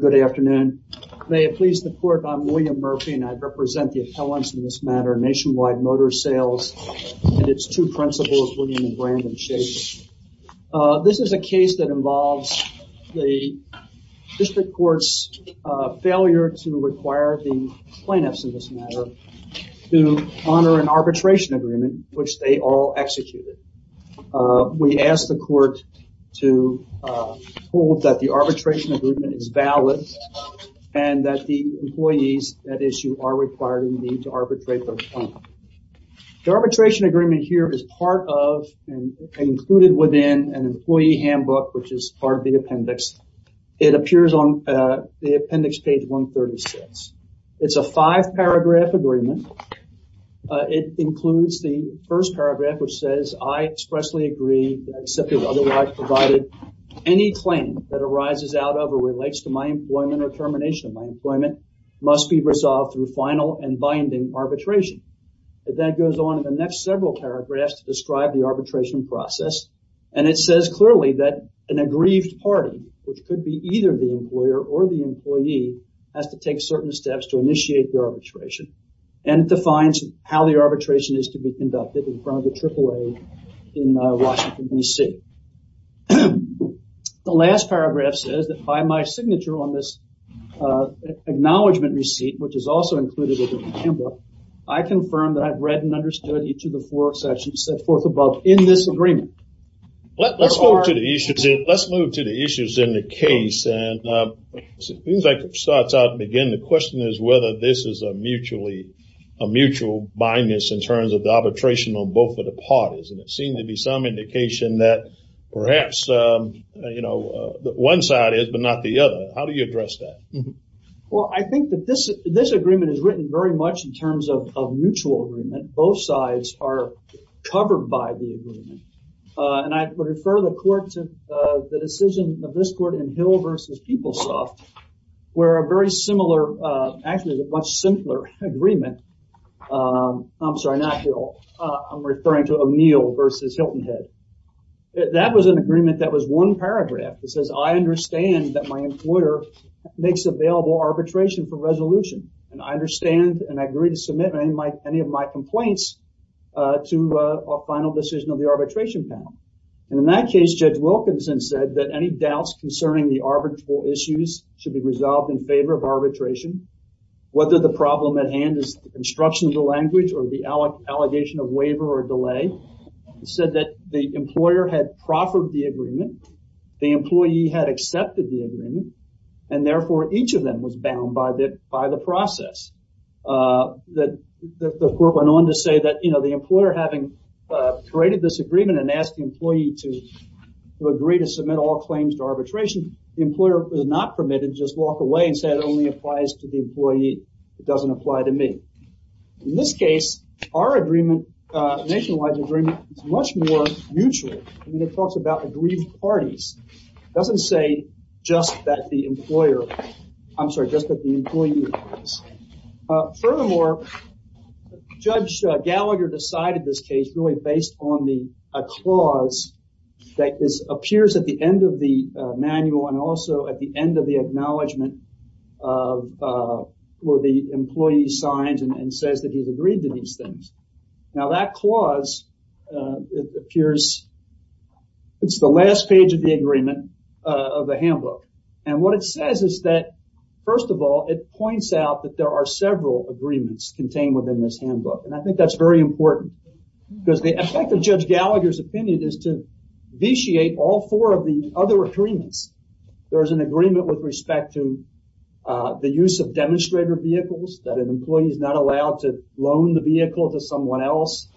Good afternoon. May it please the court, I'm William Murphy and I represent the appellants in this matter, Nationwide Motor Sales and its two principals, William and Brandon Shady. This is a case that involves the district court's failure to require the plaintiffs in this matter to honor an arbitration agreement which they all executed. We asked the court to hold that the and that the employees at issue are required in need to arbitrate. The arbitration agreement here is part of and included within an employee handbook which is part of the appendix. It appears on the appendix page 136. It's a five paragraph agreement. It includes the first paragraph which says I expressly agree excepted otherwise provided any claim that arises out of or relates to my employment or termination of my employment must be resolved through final and binding arbitration. That goes on in the next several paragraphs to describe the arbitration process and it says clearly that an aggrieved party which could be either the employer or the employee has to take certain steps to initiate the arbitration and it defines how the arbitration is to be conducted in front of the AAA in Washington DC. The last paragraph says that by my signature on this acknowledgement receipt which is also included in the handbook, I confirm that I've read and understood each of the four sections set forth above in this agreement. Let's move to the issues in the case and it seems like it starts out and again the question is whether this is a mutually a mutual bindness in terms of the arbitration on both of the parties and it seemed to be some indication that perhaps you know that one side is but not the other. How do you address that? Well I think that this this agreement is written very much in terms of mutual agreement. Both sides are covered by the agreement and I would refer the court to the decision of this court in Hill versus PeopleSoft where a very similar actually the much simpler agreement I'm sorry not Hill I'm referring to a meal versus Hilton head that was an agreement that was one paragraph that says I understand that my employer makes available arbitration for resolution and I understand and I agree to submit any of my complaints to a final decision of the arbitration panel and in that case Judge Wilkinson said that any doubts concerning the arbitral issues should be resolved in favor of arbitration whether the problem at hand is the construction of the language or the allegation of waiver or delay said that the employer had proffered the agreement the employee had accepted the agreement and therefore each of them was bound by that by the process that the court went on to say that you know the employer having created this agreement and asked the employee to agree to submit all claims to arbitration the employer was not permitted just walk away and say it only applies to the employee it doesn't apply to me in this case our agreement nationwide agreement is much more mutual I mean it talks about aggrieved parties doesn't say just that the employer I'm sorry just that the employee furthermore judge Gallagher decided this case really based on the clause that is appears at the end of the manual and also at the end of the acknowledgement of where the employee signs and says that he's agreed to these things now that clause it appears it's the last page of the agreement of the handbook and what it says is that first of all it points out that there are several agreements contained within this handbook and I think that's very important because the four of the other agreements there is an agreement with respect to the use of demonstrator vehicles that an employee is not allowed to loan the vehicle to someone else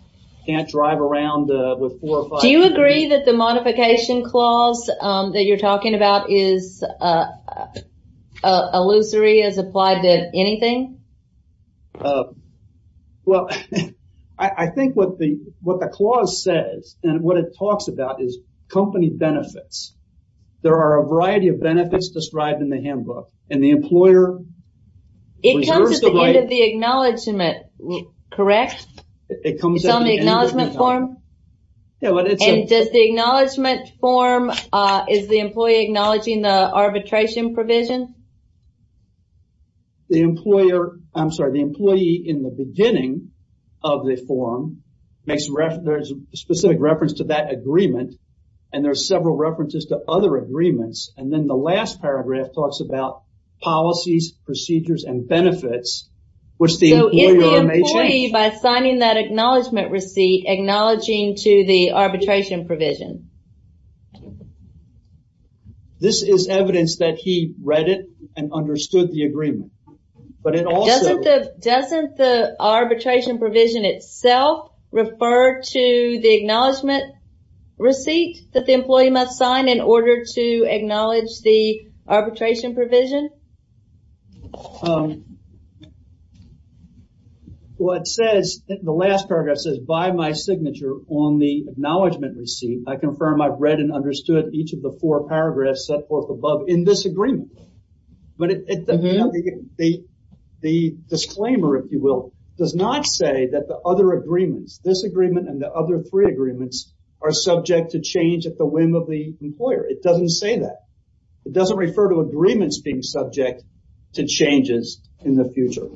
can't drive around with four or five. Do you agree that the modification clause that you're talking about is illusory as applied to anything? Well I think what the what the clause says and what it talks about is company benefits there are a variety of benefits described in the handbook and the employer. It comes at the end of the acknowledgement, correct? It comes on the acknowledgement form? Yeah. Does the acknowledgement form is the employee acknowledging the arbitration provision? The employer I'm sorry the employee in the beginning of the form makes reference specific reference to that several references to other agreements and then the last paragraph talks about policies procedures and benefits which the employer may change. So is the employee by signing that acknowledgement receipt acknowledging to the arbitration provision? This is evidence that he read it and understood the agreement but it also... Doesn't the arbitration provision itself refer to the acknowledgement receipt that the must sign in order to acknowledge the arbitration provision? Well it says the last paragraph says by my signature on the acknowledgement receipt I confirm I've read and understood each of the four paragraphs set forth above in this agreement. But the disclaimer if you will does not say that the other agreements this agreement and the other three agreements are subject to change at the whim of the employer. It doesn't say that. It doesn't refer to agreements being subject to changes in the future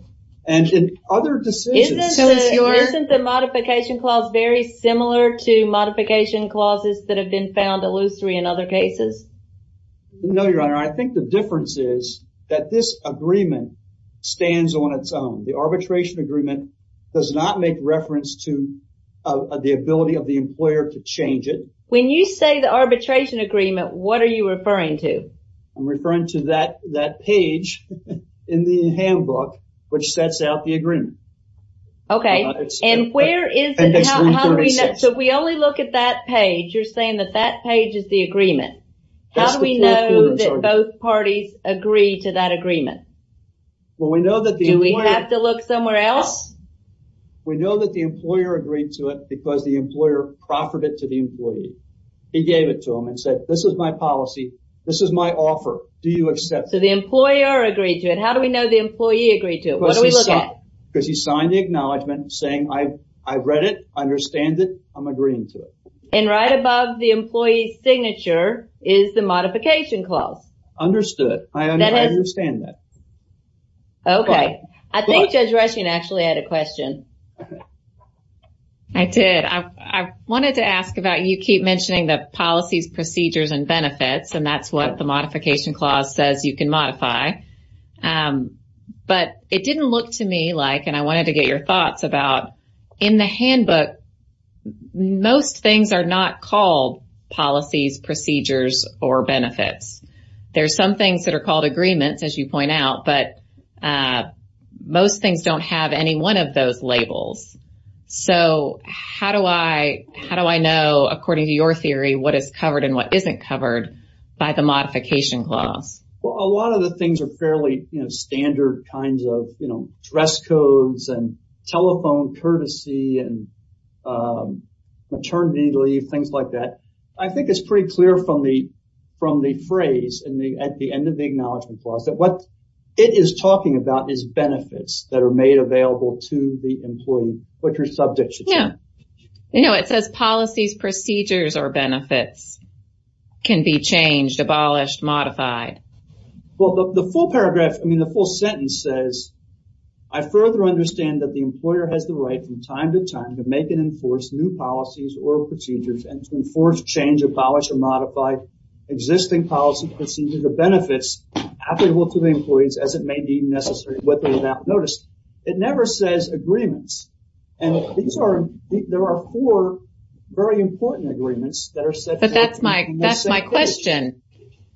and in other decisions... Isn't the modification clause very similar to modification clauses that have been found illusory in other cases? No your honor I think the difference is that this agreement stands on its own. The arbitration agreement does not make reference to the ability of the employer to change it. When you say the arbitration agreement what are you referring to? I'm referring to that that page in the handbook which sets out the agreement. Okay and where is it so we only look at that page you're saying that that page is the agreement. How do we know that both parties agree to that agreement? Well we know that... Do we have to look somewhere else? We know that the employer proffered it to the employee. He gave it to him and said this is my policy this is my offer do you accept? So the employer agreed to it. How do we know the employee agreed to it? What do we look at? Because he signed the acknowledgment saying I read it understand it I'm agreeing to it. And right above the employee's signature is the modification clause. Understood I understand that. Okay I think Judge actually had a question. I did. I wanted to ask about you keep mentioning the policies procedures and benefits and that's what the modification clause says you can modify. But it didn't look to me like and I wanted to get your thoughts about in the handbook most things are not called policies procedures or benefits. There's some things that are called agreements as you point out but most things don't have any one of those labels. So how do I how do I know according to your theory what is covered and what isn't covered by the modification clause? Well a lot of the things are fairly you know standard kinds of you know dress codes and telephone courtesy and maternity leave things like that. I think it's pretty clear from the from the phrase and the end of the acknowledgment clause that what it is talking about is benefits that are made available to the employee which are subject. Yeah you know it says policies procedures or benefits can be changed, abolished, modified. Well the full paragraph I mean the full sentence says I further understand that the employer has the right from time to time to make and enforce new policies or procedures and to enforce change abolish or modify existing policy procedures or benefits applicable to the employees as it may be necessary whether they have noticed. It never says agreements and these are there are four very important agreements that are set. But that's my that's my question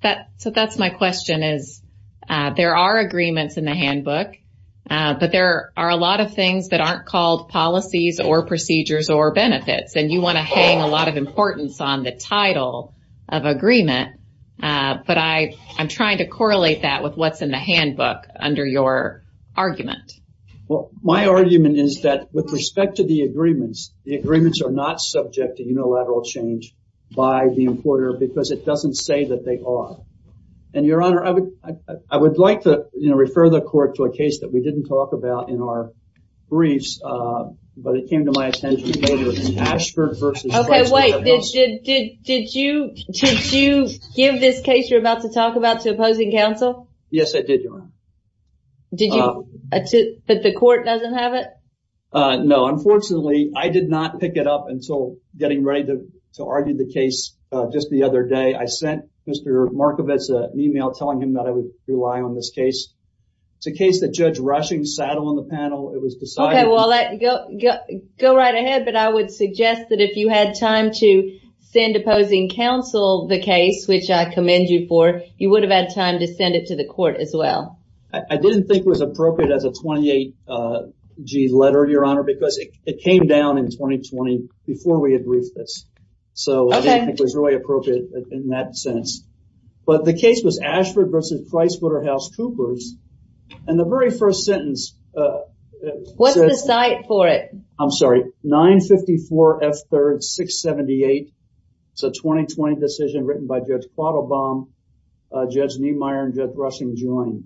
that so that's my question is there are agreements in the handbook but there are a lot of things that aren't called policies or procedures or benefits and you want to hang a lot of importance on the title of agreement but I I'm trying to correlate that with what's in the handbook under your argument. Well my argument is that with respect to the agreements the agreements are not subject to unilateral change by the importer because it doesn't say that they are and your honor I would I would like to you know refer the court to a case that we didn't talk about in our briefs but it came to my attention Okay wait did you did you give this case you're about to talk about to opposing counsel? Yes I did your honor. Did you but the court doesn't have it? No unfortunately I did not pick it up until getting ready to argue the case just the other day I sent Mr. Markovitz an email telling him that I would rely on this case. It's a case that Judge Rushing sat on the panel it was decided. Okay well let go go right ahead but I would suggest that if you had time to send opposing counsel the case which I commend you for you would have had time to send it to the court as well. I didn't think was appropriate as a 28g letter your honor because it came down in 2020 before we had briefed this so it was really appropriate in that sense but the case was Ashford versus PricewaterhouseCoopers and the very first sentence. What's the site for it? I'm sorry 954 F 3rd 678 it's a 2020 decision written by Judge Quattlebaum, Judge Niemeyer and Judge Rushing joined.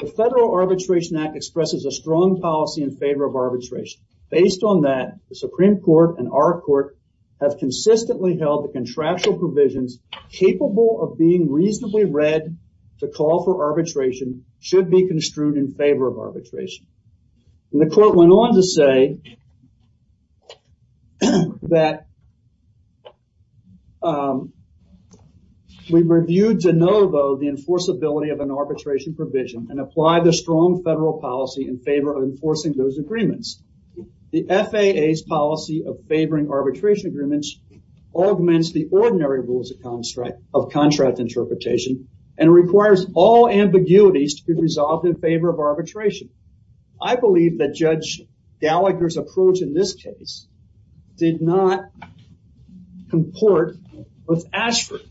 The Federal Arbitration Act expresses a strong policy in favor of arbitration based on that the Supreme Court and our court have consistently held the contractual provisions capable of being reasonably read to call for arbitration should be construed in favor of arbitration. The court went on to say that we reviewed de novo the enforceability of an arbitration provision and apply the strong federal policy in favor of enforcing those agreements. The FAA's policy of favoring arbitration agreements augments the ordinary rules of contract of contract interpretation and requires all ambiguities to be resolved in favor of arbitration. I believe that Judge Gallagher's approach in this case did not comport with Ashford.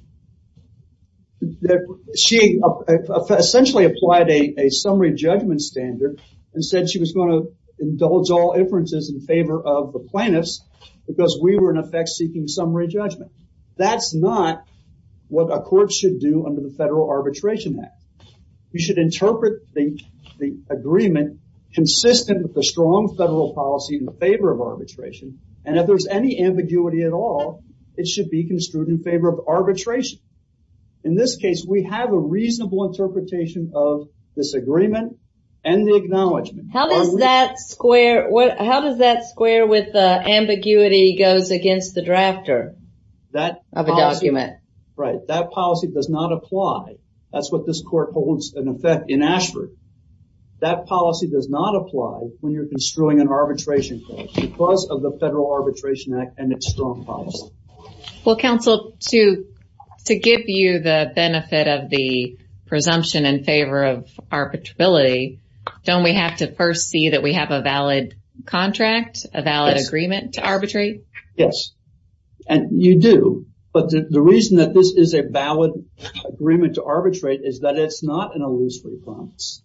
She essentially applied a summary judgment standard and said she was going to indulge all inferences in favor of the plaintiffs because we were in effect seeking summary judgment. That's not what a court should do under the Federal Arbitration Act. You should interpret the agreement consistent with the strong federal policy in favor of arbitration and if there's any ambiguity at all it should be construed in favor of arbitration. In this case we have a reasonable interpretation of this agreement and the acknowledgment. How does that square what how does that square with the ambiguity goes against the drafter of a this court holds an effect in Ashford. That policy does not apply when you're construing an arbitration case because of the Federal Arbitration Act and its strong policy. Well counsel to to give you the benefit of the presumption in favor of arbitrability don't we have to first see that we have a valid contract a valid agreement to arbitrate? Yes and you do but the reason that this is a valid agreement to arbitrate is that it's not an illusory promise.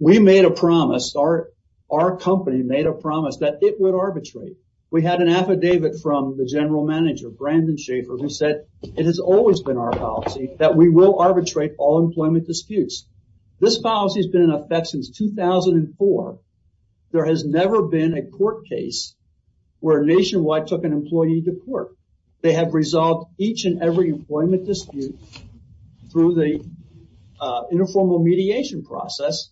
We made a promise our our company made a promise that it would arbitrate. We had an affidavit from the general manager Brandon Schaefer who said it has always been our policy that we will arbitrate all employment disputes. This policy has been in effect since 2004. There has never been a court case where Nationwide took an employee to court. They have resolved each and every employment dispute through the informal mediation process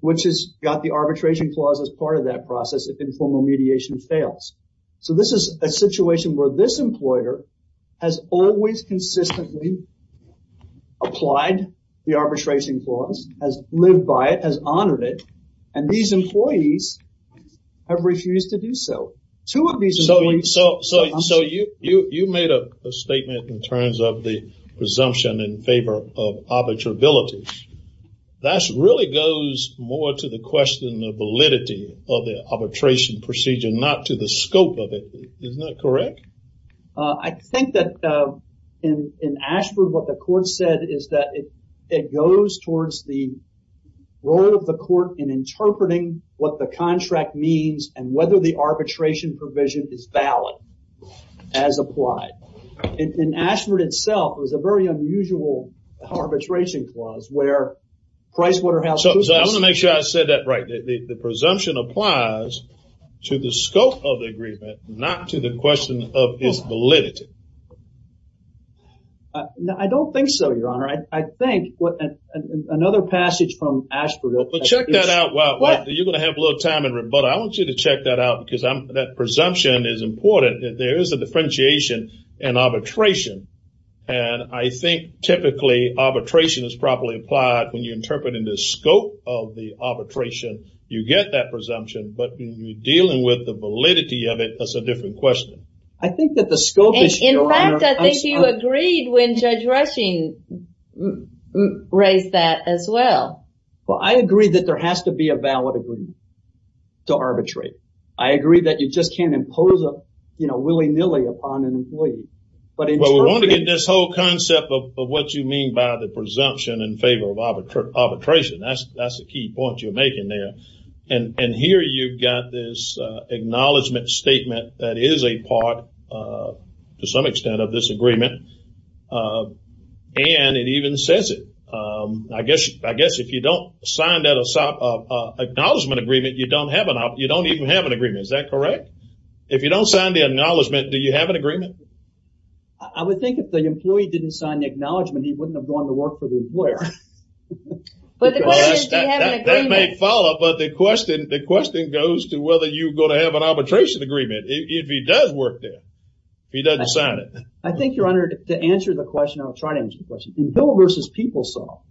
which has got the arbitration clause as part of that process if informal mediation fails. So this is a situation where this employer has always consistently applied the arbitration clause has lived by it has honored it and these employees have refused to do so. So you made a statement in terms of the presumption in favor of arbitrability. That really goes more to the question of validity of the arbitration procedure not to the scope of it. Isn't that correct? I think that in Ashford what the court said is that it goes towards the role of the court in that the arbitration provision is valid as applied. In Ashford itself it was a very unusual arbitration clause where PricewaterhouseCoopers. So I want to make sure I said that right the presumption applies to the scope of the agreement not to the question of its validity. I don't think so your honor. I think what another passage from Ashford. Check that out. You're going to have a little time in rebuttal. I want you to check that out because I'm that presumption is important that there is a differentiation and arbitration and I think typically arbitration is properly applied when you interpret in the scope of the arbitration you get that presumption but you're dealing with the validity of it that's a different question. I think that the scope. In fact I think you agreed when Judge Rushing raised that as well. Well I agree that there has to be a valid agreement to arbitrate. I agree that you just can't impose a you know willy-nilly upon an employee. But we want to get this whole concept of what you mean by the presumption in favor of arbitration. That's that's the key point you're making there and and here you've got this acknowledgement statement that is a part to some extent of this agreement and it even says it. I guess I guess if you don't sign that a sign of acknowledgement agreement you don't have you don't even have an agreement. Is that correct? If you don't sign the acknowledgement do you have an agreement? I would think if the employee didn't sign the acknowledgement he wouldn't have gone to work for the employer. That may follow but the question the question goes to whether you're going to have an arbitration agreement if he does work there. He doesn't sign it. I think your honor to answer the question I'll try to answer the question. In Bill versus PeopleSoft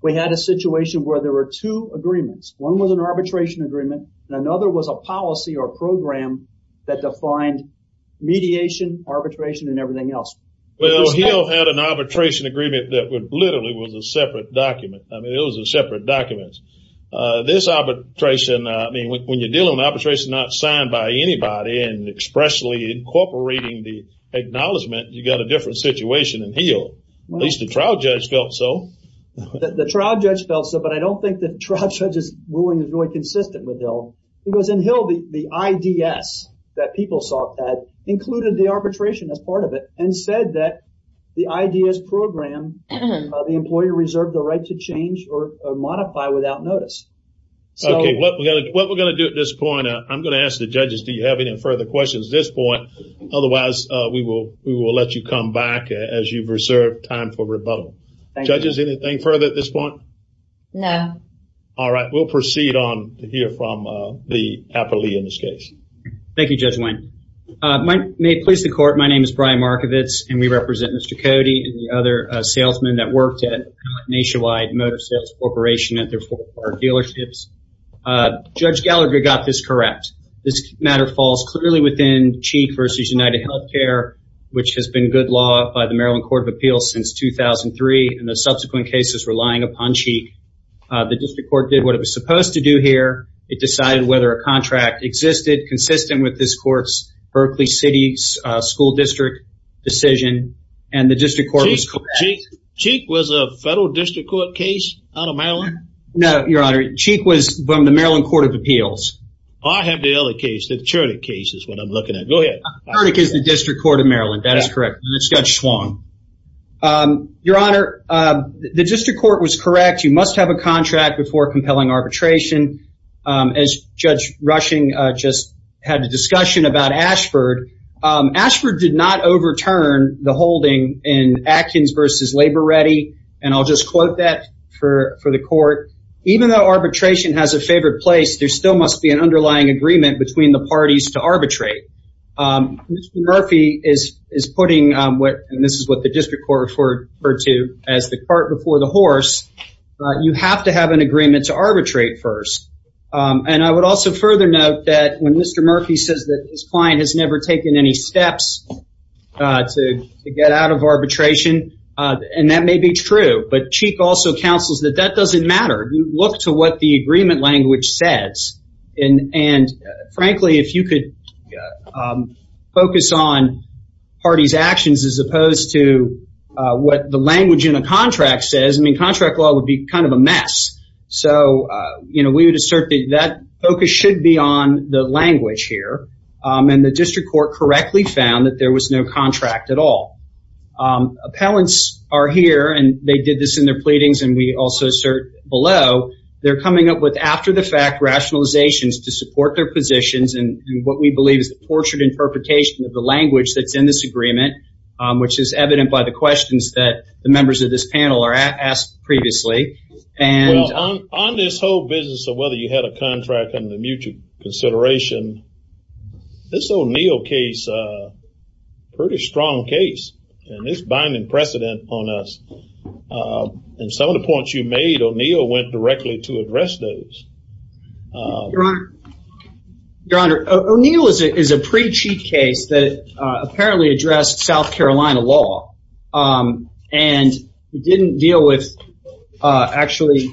we had a situation where there were two agreements. One was an other was a policy or program that defined mediation arbitration and everything else. Well Hill had an arbitration agreement that would literally was a separate document. I mean it was a separate documents. This arbitration I mean when you're dealing with arbitration not signed by anybody and expressly incorporating the acknowledgement you got a different situation in Hill. At least the trial judge felt so. The trial judge felt so but I Because in Hill the IDS that PeopleSoft had included the arbitration as part of it and said that the IDS program the employee reserved the right to change or modify without notice. Okay what we're gonna do at this point I'm gonna ask the judges do you have any further questions this point otherwise we will we will let you come back as you've reserved time for rebuttal. Judges anything further at this point? No. All right we'll proceed on to hear from the affidavit in this case. Thank you Judge Wayne. May it please the court my name is Brian Markovitz and we represent Mr. Cody and the other salesmen that worked at Nationwide Motor Sales Corporation at their four dealerships. Judge Gallagher got this correct. This matter falls clearly within Cheek versus UnitedHealthcare which has been good law by the Maryland Court of Appeals since 2003 and the subsequent cases relying upon Cheek. The district court did what it was supposed to do here it decided whether a contract existed consistent with this courts Berkeley City's school district decision and the district court was correct. Cheek was a federal district court case out of Maryland? No your honor Cheek was from the Maryland Court of Appeals. I have the other case the Chertick case is what I'm looking at. Go ahead. Chertick is the District Court of Maryland that is wrong. Your honor the district court was correct you must have a contract before compelling arbitration. As Judge Rushing just had a discussion about Ashford. Ashford did not overturn the holding in Atkins versus Labor-Ready and I'll just quote that for for the court. Even though arbitration has a favored place there still must be an underlying agreement between the parties to arbitrate. Murphy is putting what this is what the district court referred to as the cart before the horse. You have to have an agreement to arbitrate first and I would also further note that when Mr. Murphy says that his client has never taken any steps to get out of arbitration and that may be true but Cheek also counsels that that doesn't matter. You look to what the agreement language says and frankly if you could focus on parties actions as opposed to what the language in a contract says I mean contract law would be kind of a mess. So you know we would assert that focus should be on the language here and the district court correctly found that there was no contract at all. Appellants are here and they did this in their pleadings and we also assert below they're coming up with after-the-fact rationalizations to support their positions and what we believe is the tortured interpretation of the language that's in this agreement which is evident by the questions that the members of this panel are asked previously. And on this whole business of whether you had a contract and the mutual consideration this O'Neill case pretty strong case and this binding precedent on us and some of the points you made O'Neill went directly to Your Honor, O'Neill is a pre-Cheek case that apparently addressed South Carolina law and didn't deal with actually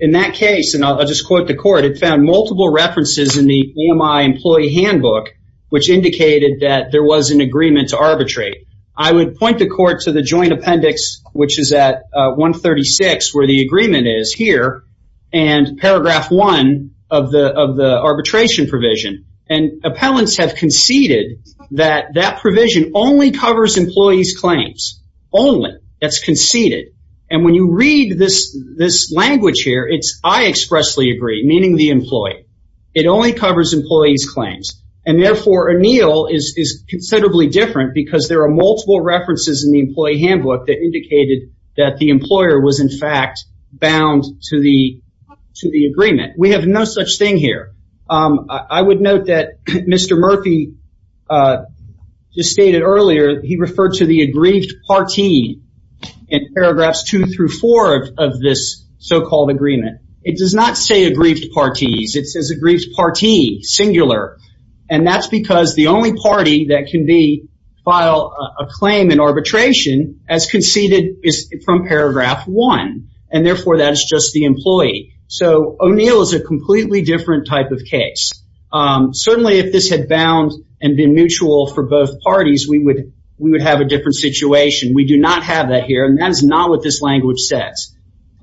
in that case and I'll just quote the court it found multiple references in the EMI employee handbook which indicated that there was an agreement to arbitrate. I would point the court to the joint appendix which is at 136 where the agreement is here and paragraph 1 of the arbitration provision and appellants have conceded that that provision only covers employees claims only that's conceded and when you read this this language here it's I expressly agree meaning the employee it only covers employees claims and therefore O'Neill is considerably different because there are multiple references in the employee handbook that indicated that the employer was in fact bound to the to the agreement. We have no such thing here. I would note that Mr. Murphy just stated earlier he referred to the aggrieved party in paragraphs 2 through 4 of this so-called agreement. It does not say aggrieved parties it says aggrieved party singular and that's because the only party that can be file a claim in arbitration as conceded is from paragraph 1 and therefore that's just the employee. So O'Neill is a completely different type of case. Certainly if this had bound and been mutual for both parties we would we would have a different situation. We do not have that here and that is not what this language says.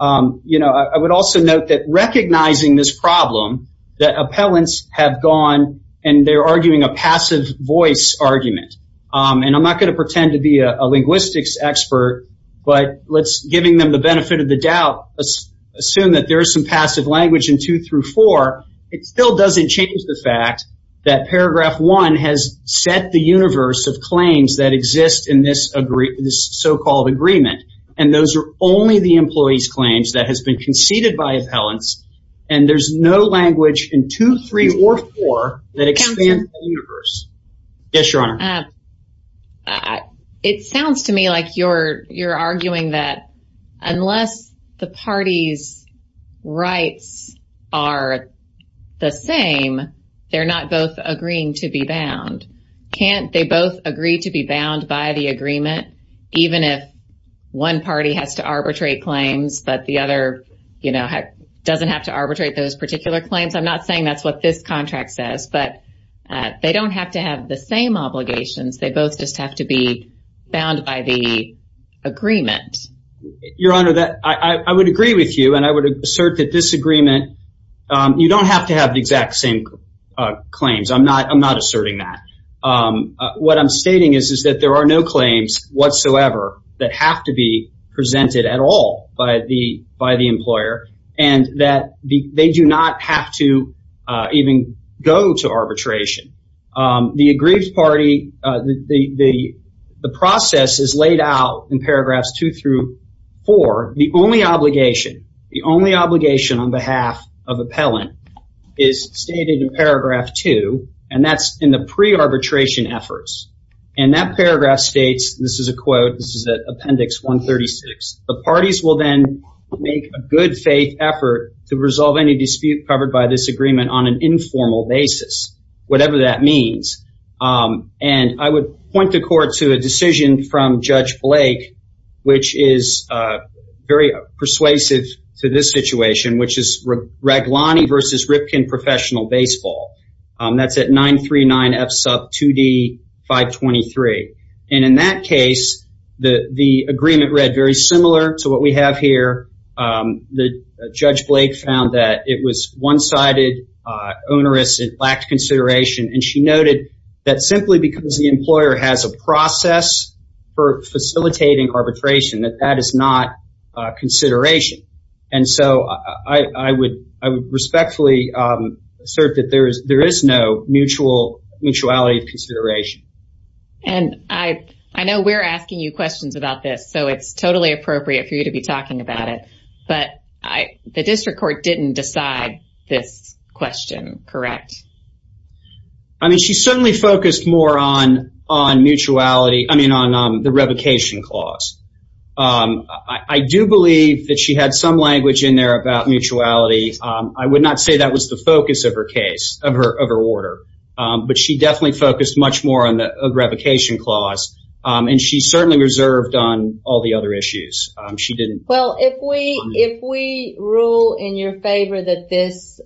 You know I would also note that recognizing this problem that appellants have gone and they're arguing a passive voice argument and I'm not going to pretend to be a linguistics expert but let's giving them the benefit of the doubt let's assume that there is some passive language in 2 through 4 it still doesn't change the fact that paragraph 1 has set the universe of claims that exist in this agree this so called agreement and those are only the employees claims that has been conceded by appellants and there's no language in 2, 3, or 4 that expands the universe. Yes your you're arguing that unless the party's rights are the same they're not both agreeing to be bound can't they both agree to be bound by the agreement even if one party has to arbitrate claims but the other you know doesn't have to arbitrate those particular claims I'm not saying that's what this contract says but they don't have to have the same obligations they both just have to be bound by the agreement your honor that I would agree with you and I would assert that this agreement you don't have to have the exact same claims I'm not I'm not asserting that what I'm stating is is that there are no claims whatsoever that have to be presented at all by the by the employer and that they do not have to even go to arbitration the aggrieved party the the process is laid out in paragraphs 2 through 4 the only obligation the only obligation on behalf of appellant is stated in paragraph 2 and that's in the pre arbitration efforts and that paragraph states this is a quote this is that appendix 136 the parties will then make a good faith effort to resolve any dispute covered by this agreement on an informal basis whatever that means and I would point the court to a decision from Judge Blake which is very persuasive to this situation which is Raglani versus Ripken professional baseball that's at 939 F sub 2d 523 and in that case the the agreement read very similar to what we have here the judge Blake found that it was one-sided onerous it lacked consideration and she noted that simply because the employer has a process for facilitating arbitration that that is not consideration and so I I would I would respectfully assert that there is there is no mutual mutuality of consideration and I I know we're asking you questions about this so it's totally appropriate for you to be talking about it but I the district court didn't decide this question correct I mean she certainly focused more on on mutuality I mean on the revocation clause I do believe that she had some language in there about mutuality I would not say that was the focus of her case of her of her order but she definitely focused much more on the revocation clause and she certainly reserved on all the other issues she didn't well if we if we rule in your favor that this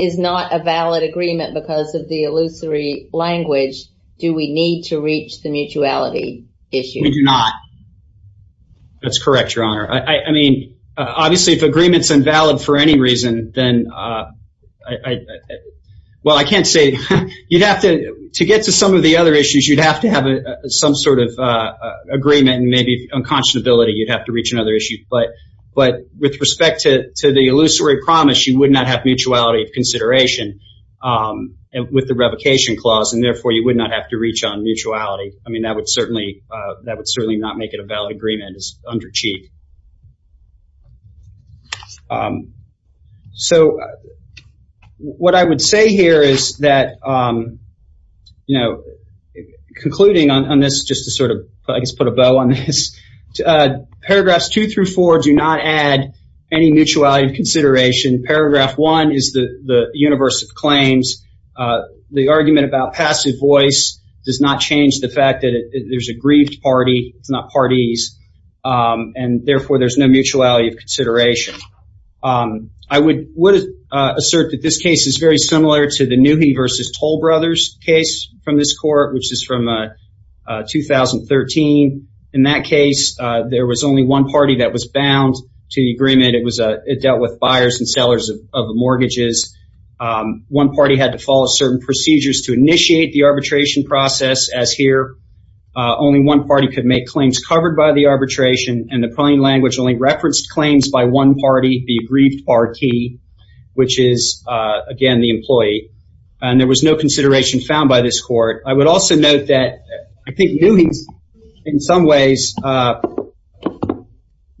is not a valid agreement because of the illusory language do we need to reach the mutuality issue we do not that's correct your honor I mean obviously if agreements invalid for any reason then well I can't say you'd have to to get to some of the other issues you'd have to have some sort of agreement and maybe unconscionability you'd have to reach another issue but but with respect to the illusory promise you would not have mutuality of consideration and with the revocation clause and therefore you would not have to reach on mutuality I mean that would certainly that would certainly not make it a valid agreement is under cheap so what I would say here is that you know concluding on this just to sort of put a bow on this paragraphs two through four do not add any mutuality of consideration paragraph one is the the universe of claims the argument about passive voice does not change the fact that there's a grieved party it's not parties and therefore there's no mutuality of consideration I would would assert that this case is very similar to the new he versus toll brothers case from this court which is from a 2013 in that case there was only one party that was bound to the agreement it was a it dealt with buyers and sellers of the mortgages one party had to follow certain procedures to initiate the arbitration process as here only one party could make claims covered by the arbitration and the plain language referenced claims by one party the aggrieved party which is again the employee and there was no consideration found by this court I would also note that I think new he's in some ways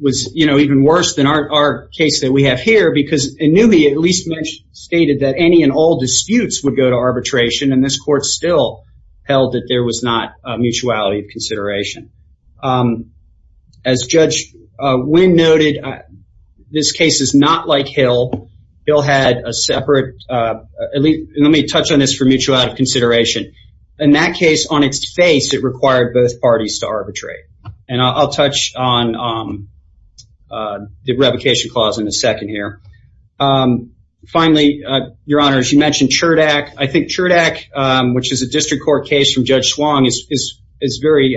was you know even worse than our case that we have here because a newbie at least mentioned stated that any and all disputes would go to arbitration and this court still held that there was not mutuality of consideration as judge Wynn noted this case is not like Hill he'll had a separate at least let me touch on this for mutual out of consideration in that case on its face it required both parties to arbitrate and I'll touch on the revocation clause in a second here finally your honor as you mentioned Cherdak I think Cherdak which is a district court case from is very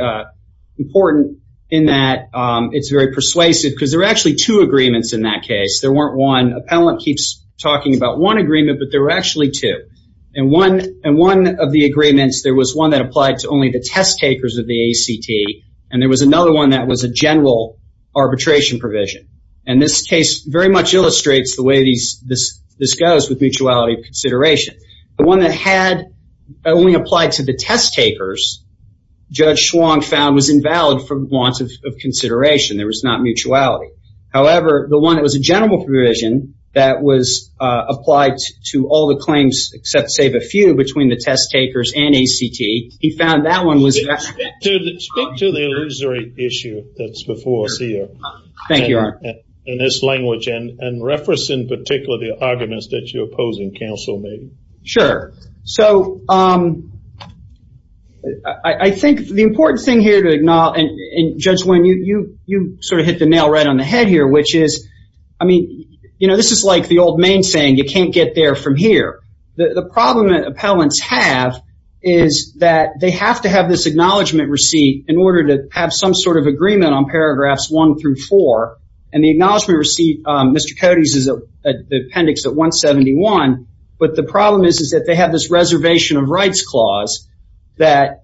important in that it's very persuasive because they're actually two agreements in that case there weren't one appellant keeps talking about one agreement but there were actually two and one and one of the agreements there was one that applied to only the test takers of the ACT and there was another one that was a general arbitration provision and this case very much illustrates the way these this this goes with mutuality of consideration the one that had only applied to the test takers judge swung found was invalid from want of consideration there was not mutuality however the one that was a general provision that was applied to all the claims except save a few between the test takers and ACT he found that one was to the illusory issue that's before CEO thank you in this language and and reference in particular the sure so I think the important thing here to acknowledge and judge when you you you sort of hit the nail right on the head here which is I mean you know this is like the old main saying you can't get there from here the problem that appellants have is that they have to have this acknowledgement receipt in order to have some sort of agreement on paragraphs one through four and the problem is is that they have this reservation of rights clause that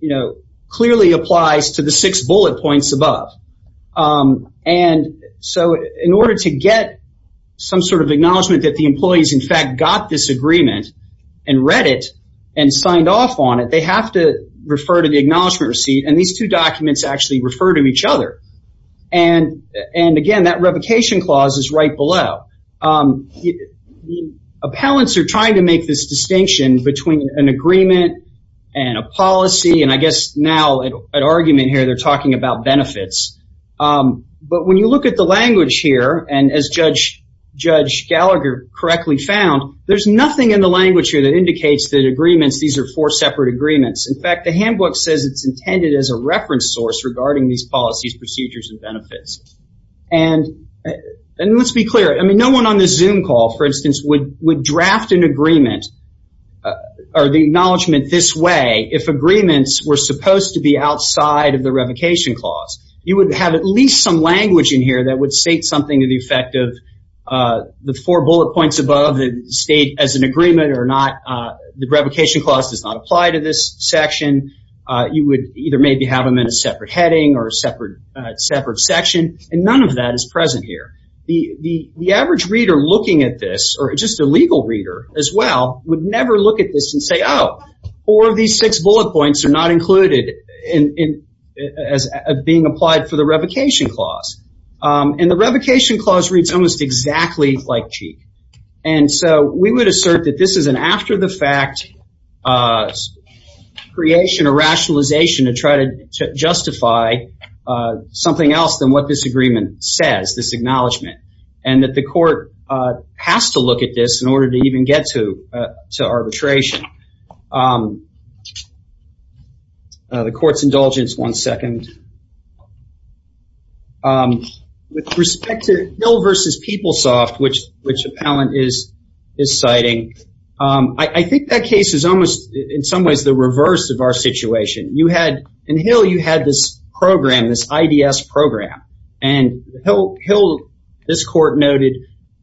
you know clearly applies to the six bullet points above and so in order to get some sort of acknowledgement that the employees in fact got this agreement and read it and signed off on it they have to refer to the acknowledgement receipt and these two documents actually refer to each other and and again that appellants are trying to make this distinction between an agreement and a policy and I guess now an argument here they're talking about benefits but when you look at the language here and as judge judge Gallagher correctly found there's nothing in the language here that indicates that agreements these are four separate agreements in fact the handbook says it's intended as a reference source regarding these policies procedures and benefits and and let's be clear I mean no one on this zoom call for instance would would draft an agreement or the acknowledgement this way if agreements were supposed to be outside of the revocation clause you would have at least some language in here that would state something to the effect of the four bullet points above the state as an agreement or not the revocation clause does not apply to this section you would either maybe have them in a separate heading or a separate section and none of that is present here the the average reader looking at this or just a legal reader as well would never look at this and say oh or these six bullet points are not included in as being applied for the revocation clause and the revocation clause reads almost exactly like cheek and so we would assert that this is an after-the-fact creation or rationalization to try to justify something else than what this agreement says this acknowledgement and that the court has to look at this in order to even get to to arbitration the court's indulgence one second with respect to Hill versus PeopleSoft which which appellant is is citing I think that case is almost in some ways the program this IDS program and Hill this court noted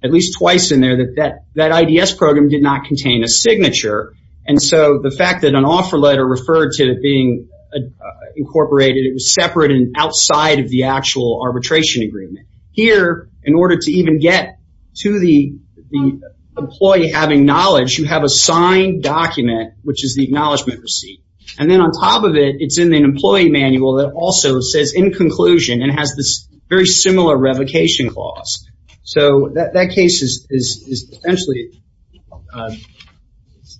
at least twice in there that that that IDS program did not contain a signature and so the fact that an offer letter referred to being incorporated it was separate and outside of the actual arbitration agreement here in order to even get to the employee having knowledge you have a signed document which is the acknowledgement receipt and then on top of it it's in an employee manual that also says in conclusion and has this very similar revocation clause so that that case is essentially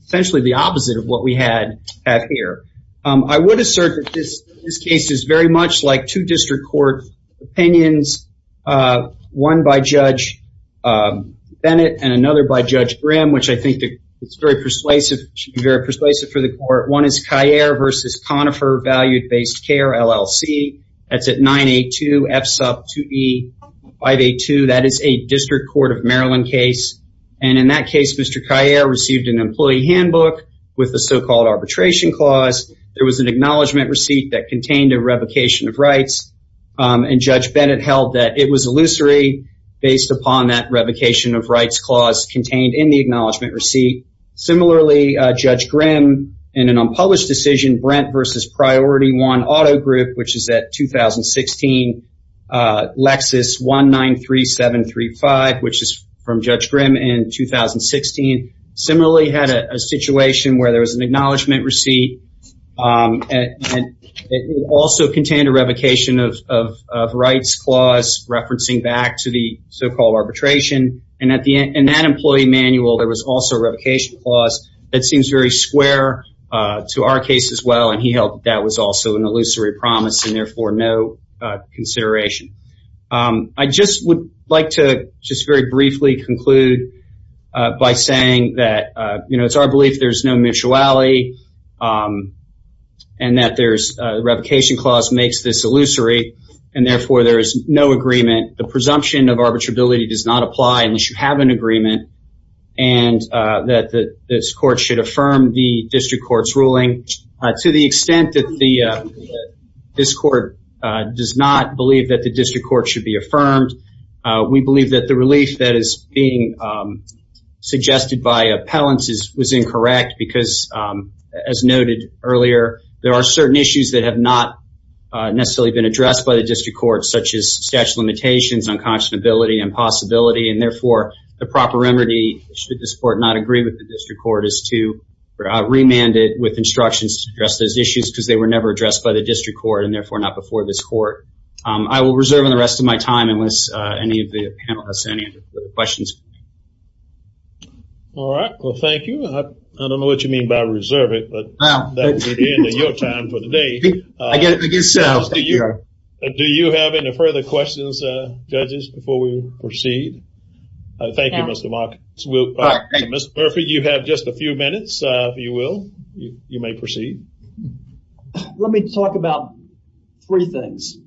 essentially the opposite of what we had at here I would assert that this this case is very much like two district court opinions one by Judge Bennett and another by Judge Brim which I think that it's very persuasive very persuasive for the court one is Cahier versus Conifer valued based care LLC that's at 982 F sub 2e 582 that is a district court of Maryland case and in that case Mr. Cahier received an employee handbook with the so-called arbitration clause there was an acknowledgement receipt that contained a revocation of rights and Judge Bennett held that it was illusory based upon that revocation of in an unpublished decision Brent versus priority one Auto Group which is at 2016 Lexus one nine three seven three five which is from Judge Grimm in 2016 similarly had a situation where there was an acknowledgement receipt and it also contained a revocation of rights clause referencing back to the so-called arbitration and at the end and that employee manual there was also a square to our case as well and he held that was also an illusory promise and therefore no consideration I just would like to just very briefly conclude by saying that you know it's our belief there's no mutuality and that there's revocation clause makes this illusory and therefore there is no agreement the presumption of arbitrability does not apply unless you have an agreement and that this court should affirm the district courts ruling to the extent that the this court does not believe that the district court should be affirmed we believe that the relief that is being suggested by appellants is was incorrect because as noted earlier there are certain issues that have not necessarily been addressed by the district court such as statute limitations unconscionability and possibility and therefore the proper remedy should this court not agree with the district court is to remand it with instructions to address those issues because they were never addressed by the district court and therefore not before this court I will reserve in the rest of my time unless any of the panelists any other questions all right well thank you I don't know what you mean by reserve it but I guess do you have any further questions judges before we proceed Thank You mr. mark will Mr. Murphy you have just a few minutes you will you may proceed let me talk about three things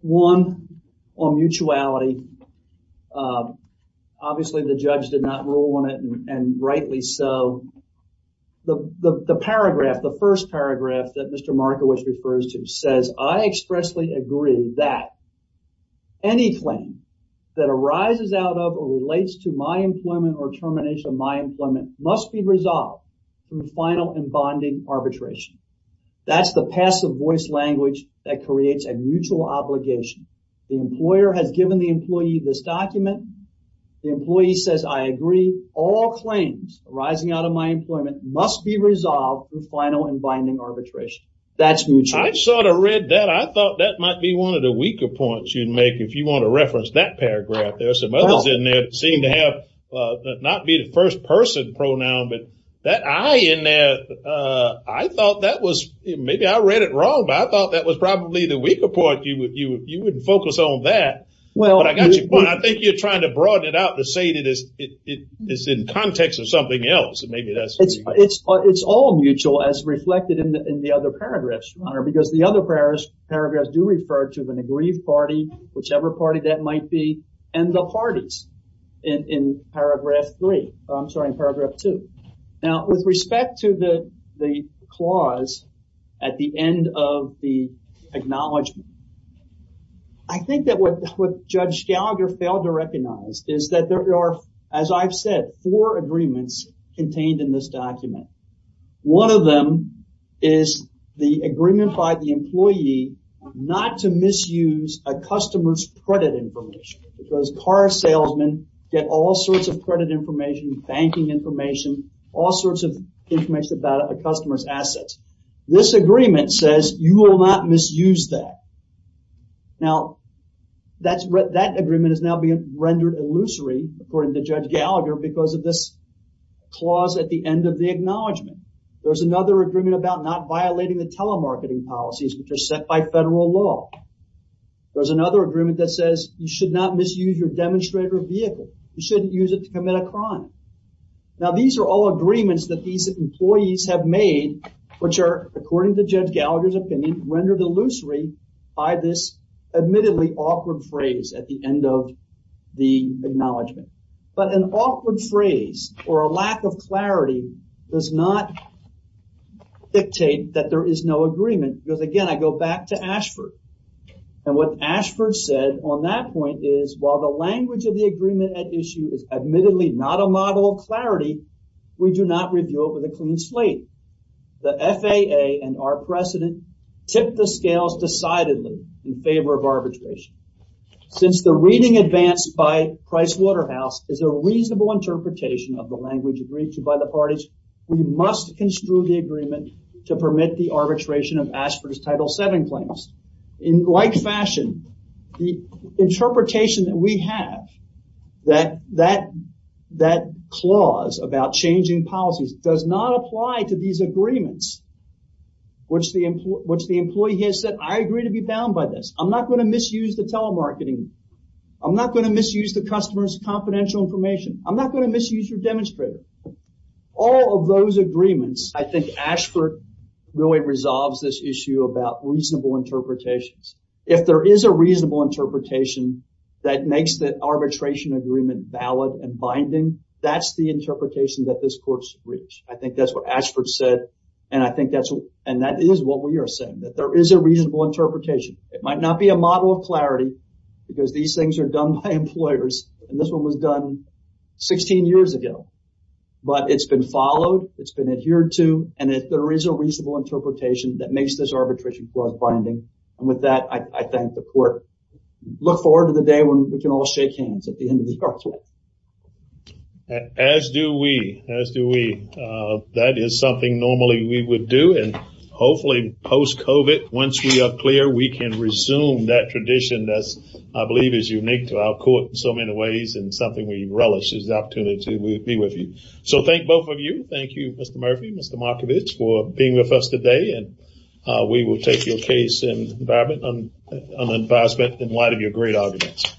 one on mutuality obviously the judge did not rule on it and rightly so the paragraph the first paragraph that mr. Markowitz refers to says I expressly agree that any claim that arises out of or relates to my employment or termination of my employment must be resolved through final and bonding arbitration that's the passive voice language that creates a mutual obligation the employer has given the employee this document the employee says I agree all claims arising out of my employment must be resolved with final and binding arbitration that's mutual I sort of read that I thought that might be one of the weaker points you'd make if you want to reference that paragraph there's some others in there seem to have not be the first-person pronoun but that I in there I thought that was maybe I read it wrong but I thought that was probably the weaker point you would you you wouldn't focus on that well I got you but I think you're trying to broaden it out to say that is it is in context or something else maybe that's it's it's all mutual as reflected in the other paragraphs honor because the other prayers paragraphs do refer to an aggrieved party whichever party that might be and the parties in paragraph three I'm sorry in paragraph two now with respect to the the clause at the end of the acknowledgement I think that what judge Gallagher failed to contained in this document one of them is the agreement by the employee not to misuse a customer's credit information because car salesman get all sorts of credit information banking information all sorts of information about a customer's assets this agreement says you will not misuse that now that's what that agreement is now being rendered illusory according to judge Gallagher because of this clause at the end of the acknowledgement there's another agreement about not violating the telemarketing policies which are set by federal law there's another agreement that says you should not misuse your demonstrator vehicle you shouldn't use it to commit a crime now these are all agreements that these employees have made which are according to judge Gallagher's opinion rendered illusory by this admittedly awkward phrase at the acknowledgement but an awkward phrase or a lack of clarity does not dictate that there is no agreement because again I go back to Ashford and what Ashford said on that point is while the language of the agreement at issue is admittedly not a model of clarity we do not review it with a clean slate the FAA and our precedent tip the scales decidedly in favor of arbitration since the reading advanced by Pricewaterhouse is a reasonable interpretation of the language agreed to by the parties we must construe the agreement to permit the arbitration of Ashford's title 7 claims in like fashion the interpretation that we have that that that clause about changing policies does not apply to these agreements which the employee has said I agree to be bound by this I'm not going to misuse the telemarketing I'm not going to misuse the customers confidential information I'm not going to misuse your demonstrator all of those agreements I think Ashford really resolves this issue about reasonable interpretations if there is a reasonable interpretation that makes that arbitration agreement valid and binding that's the interpretation that this courts reach I think that's what Ashford said and I think that's what and that is what we are saying that there is a reasonable interpretation it might not be a model of clarity because these things are done by employers and this one was done 16 years ago but it's been followed it's been adhered to and if there is a reasonable interpretation that makes this arbitration clause binding and with that I thank the court look forward to the day when we can all shake hands at the end of the court as do we as do we that is something normally we would do and hopefully post Cove it once we are clear we can resume that tradition that's I believe is unique to our court in so many ways and something we relish is the opportunity to be with you so thank both of you thank you mr. Murphy mr. Markovich for being with us today and we will take your case in environment on an advisement in light of your great arguments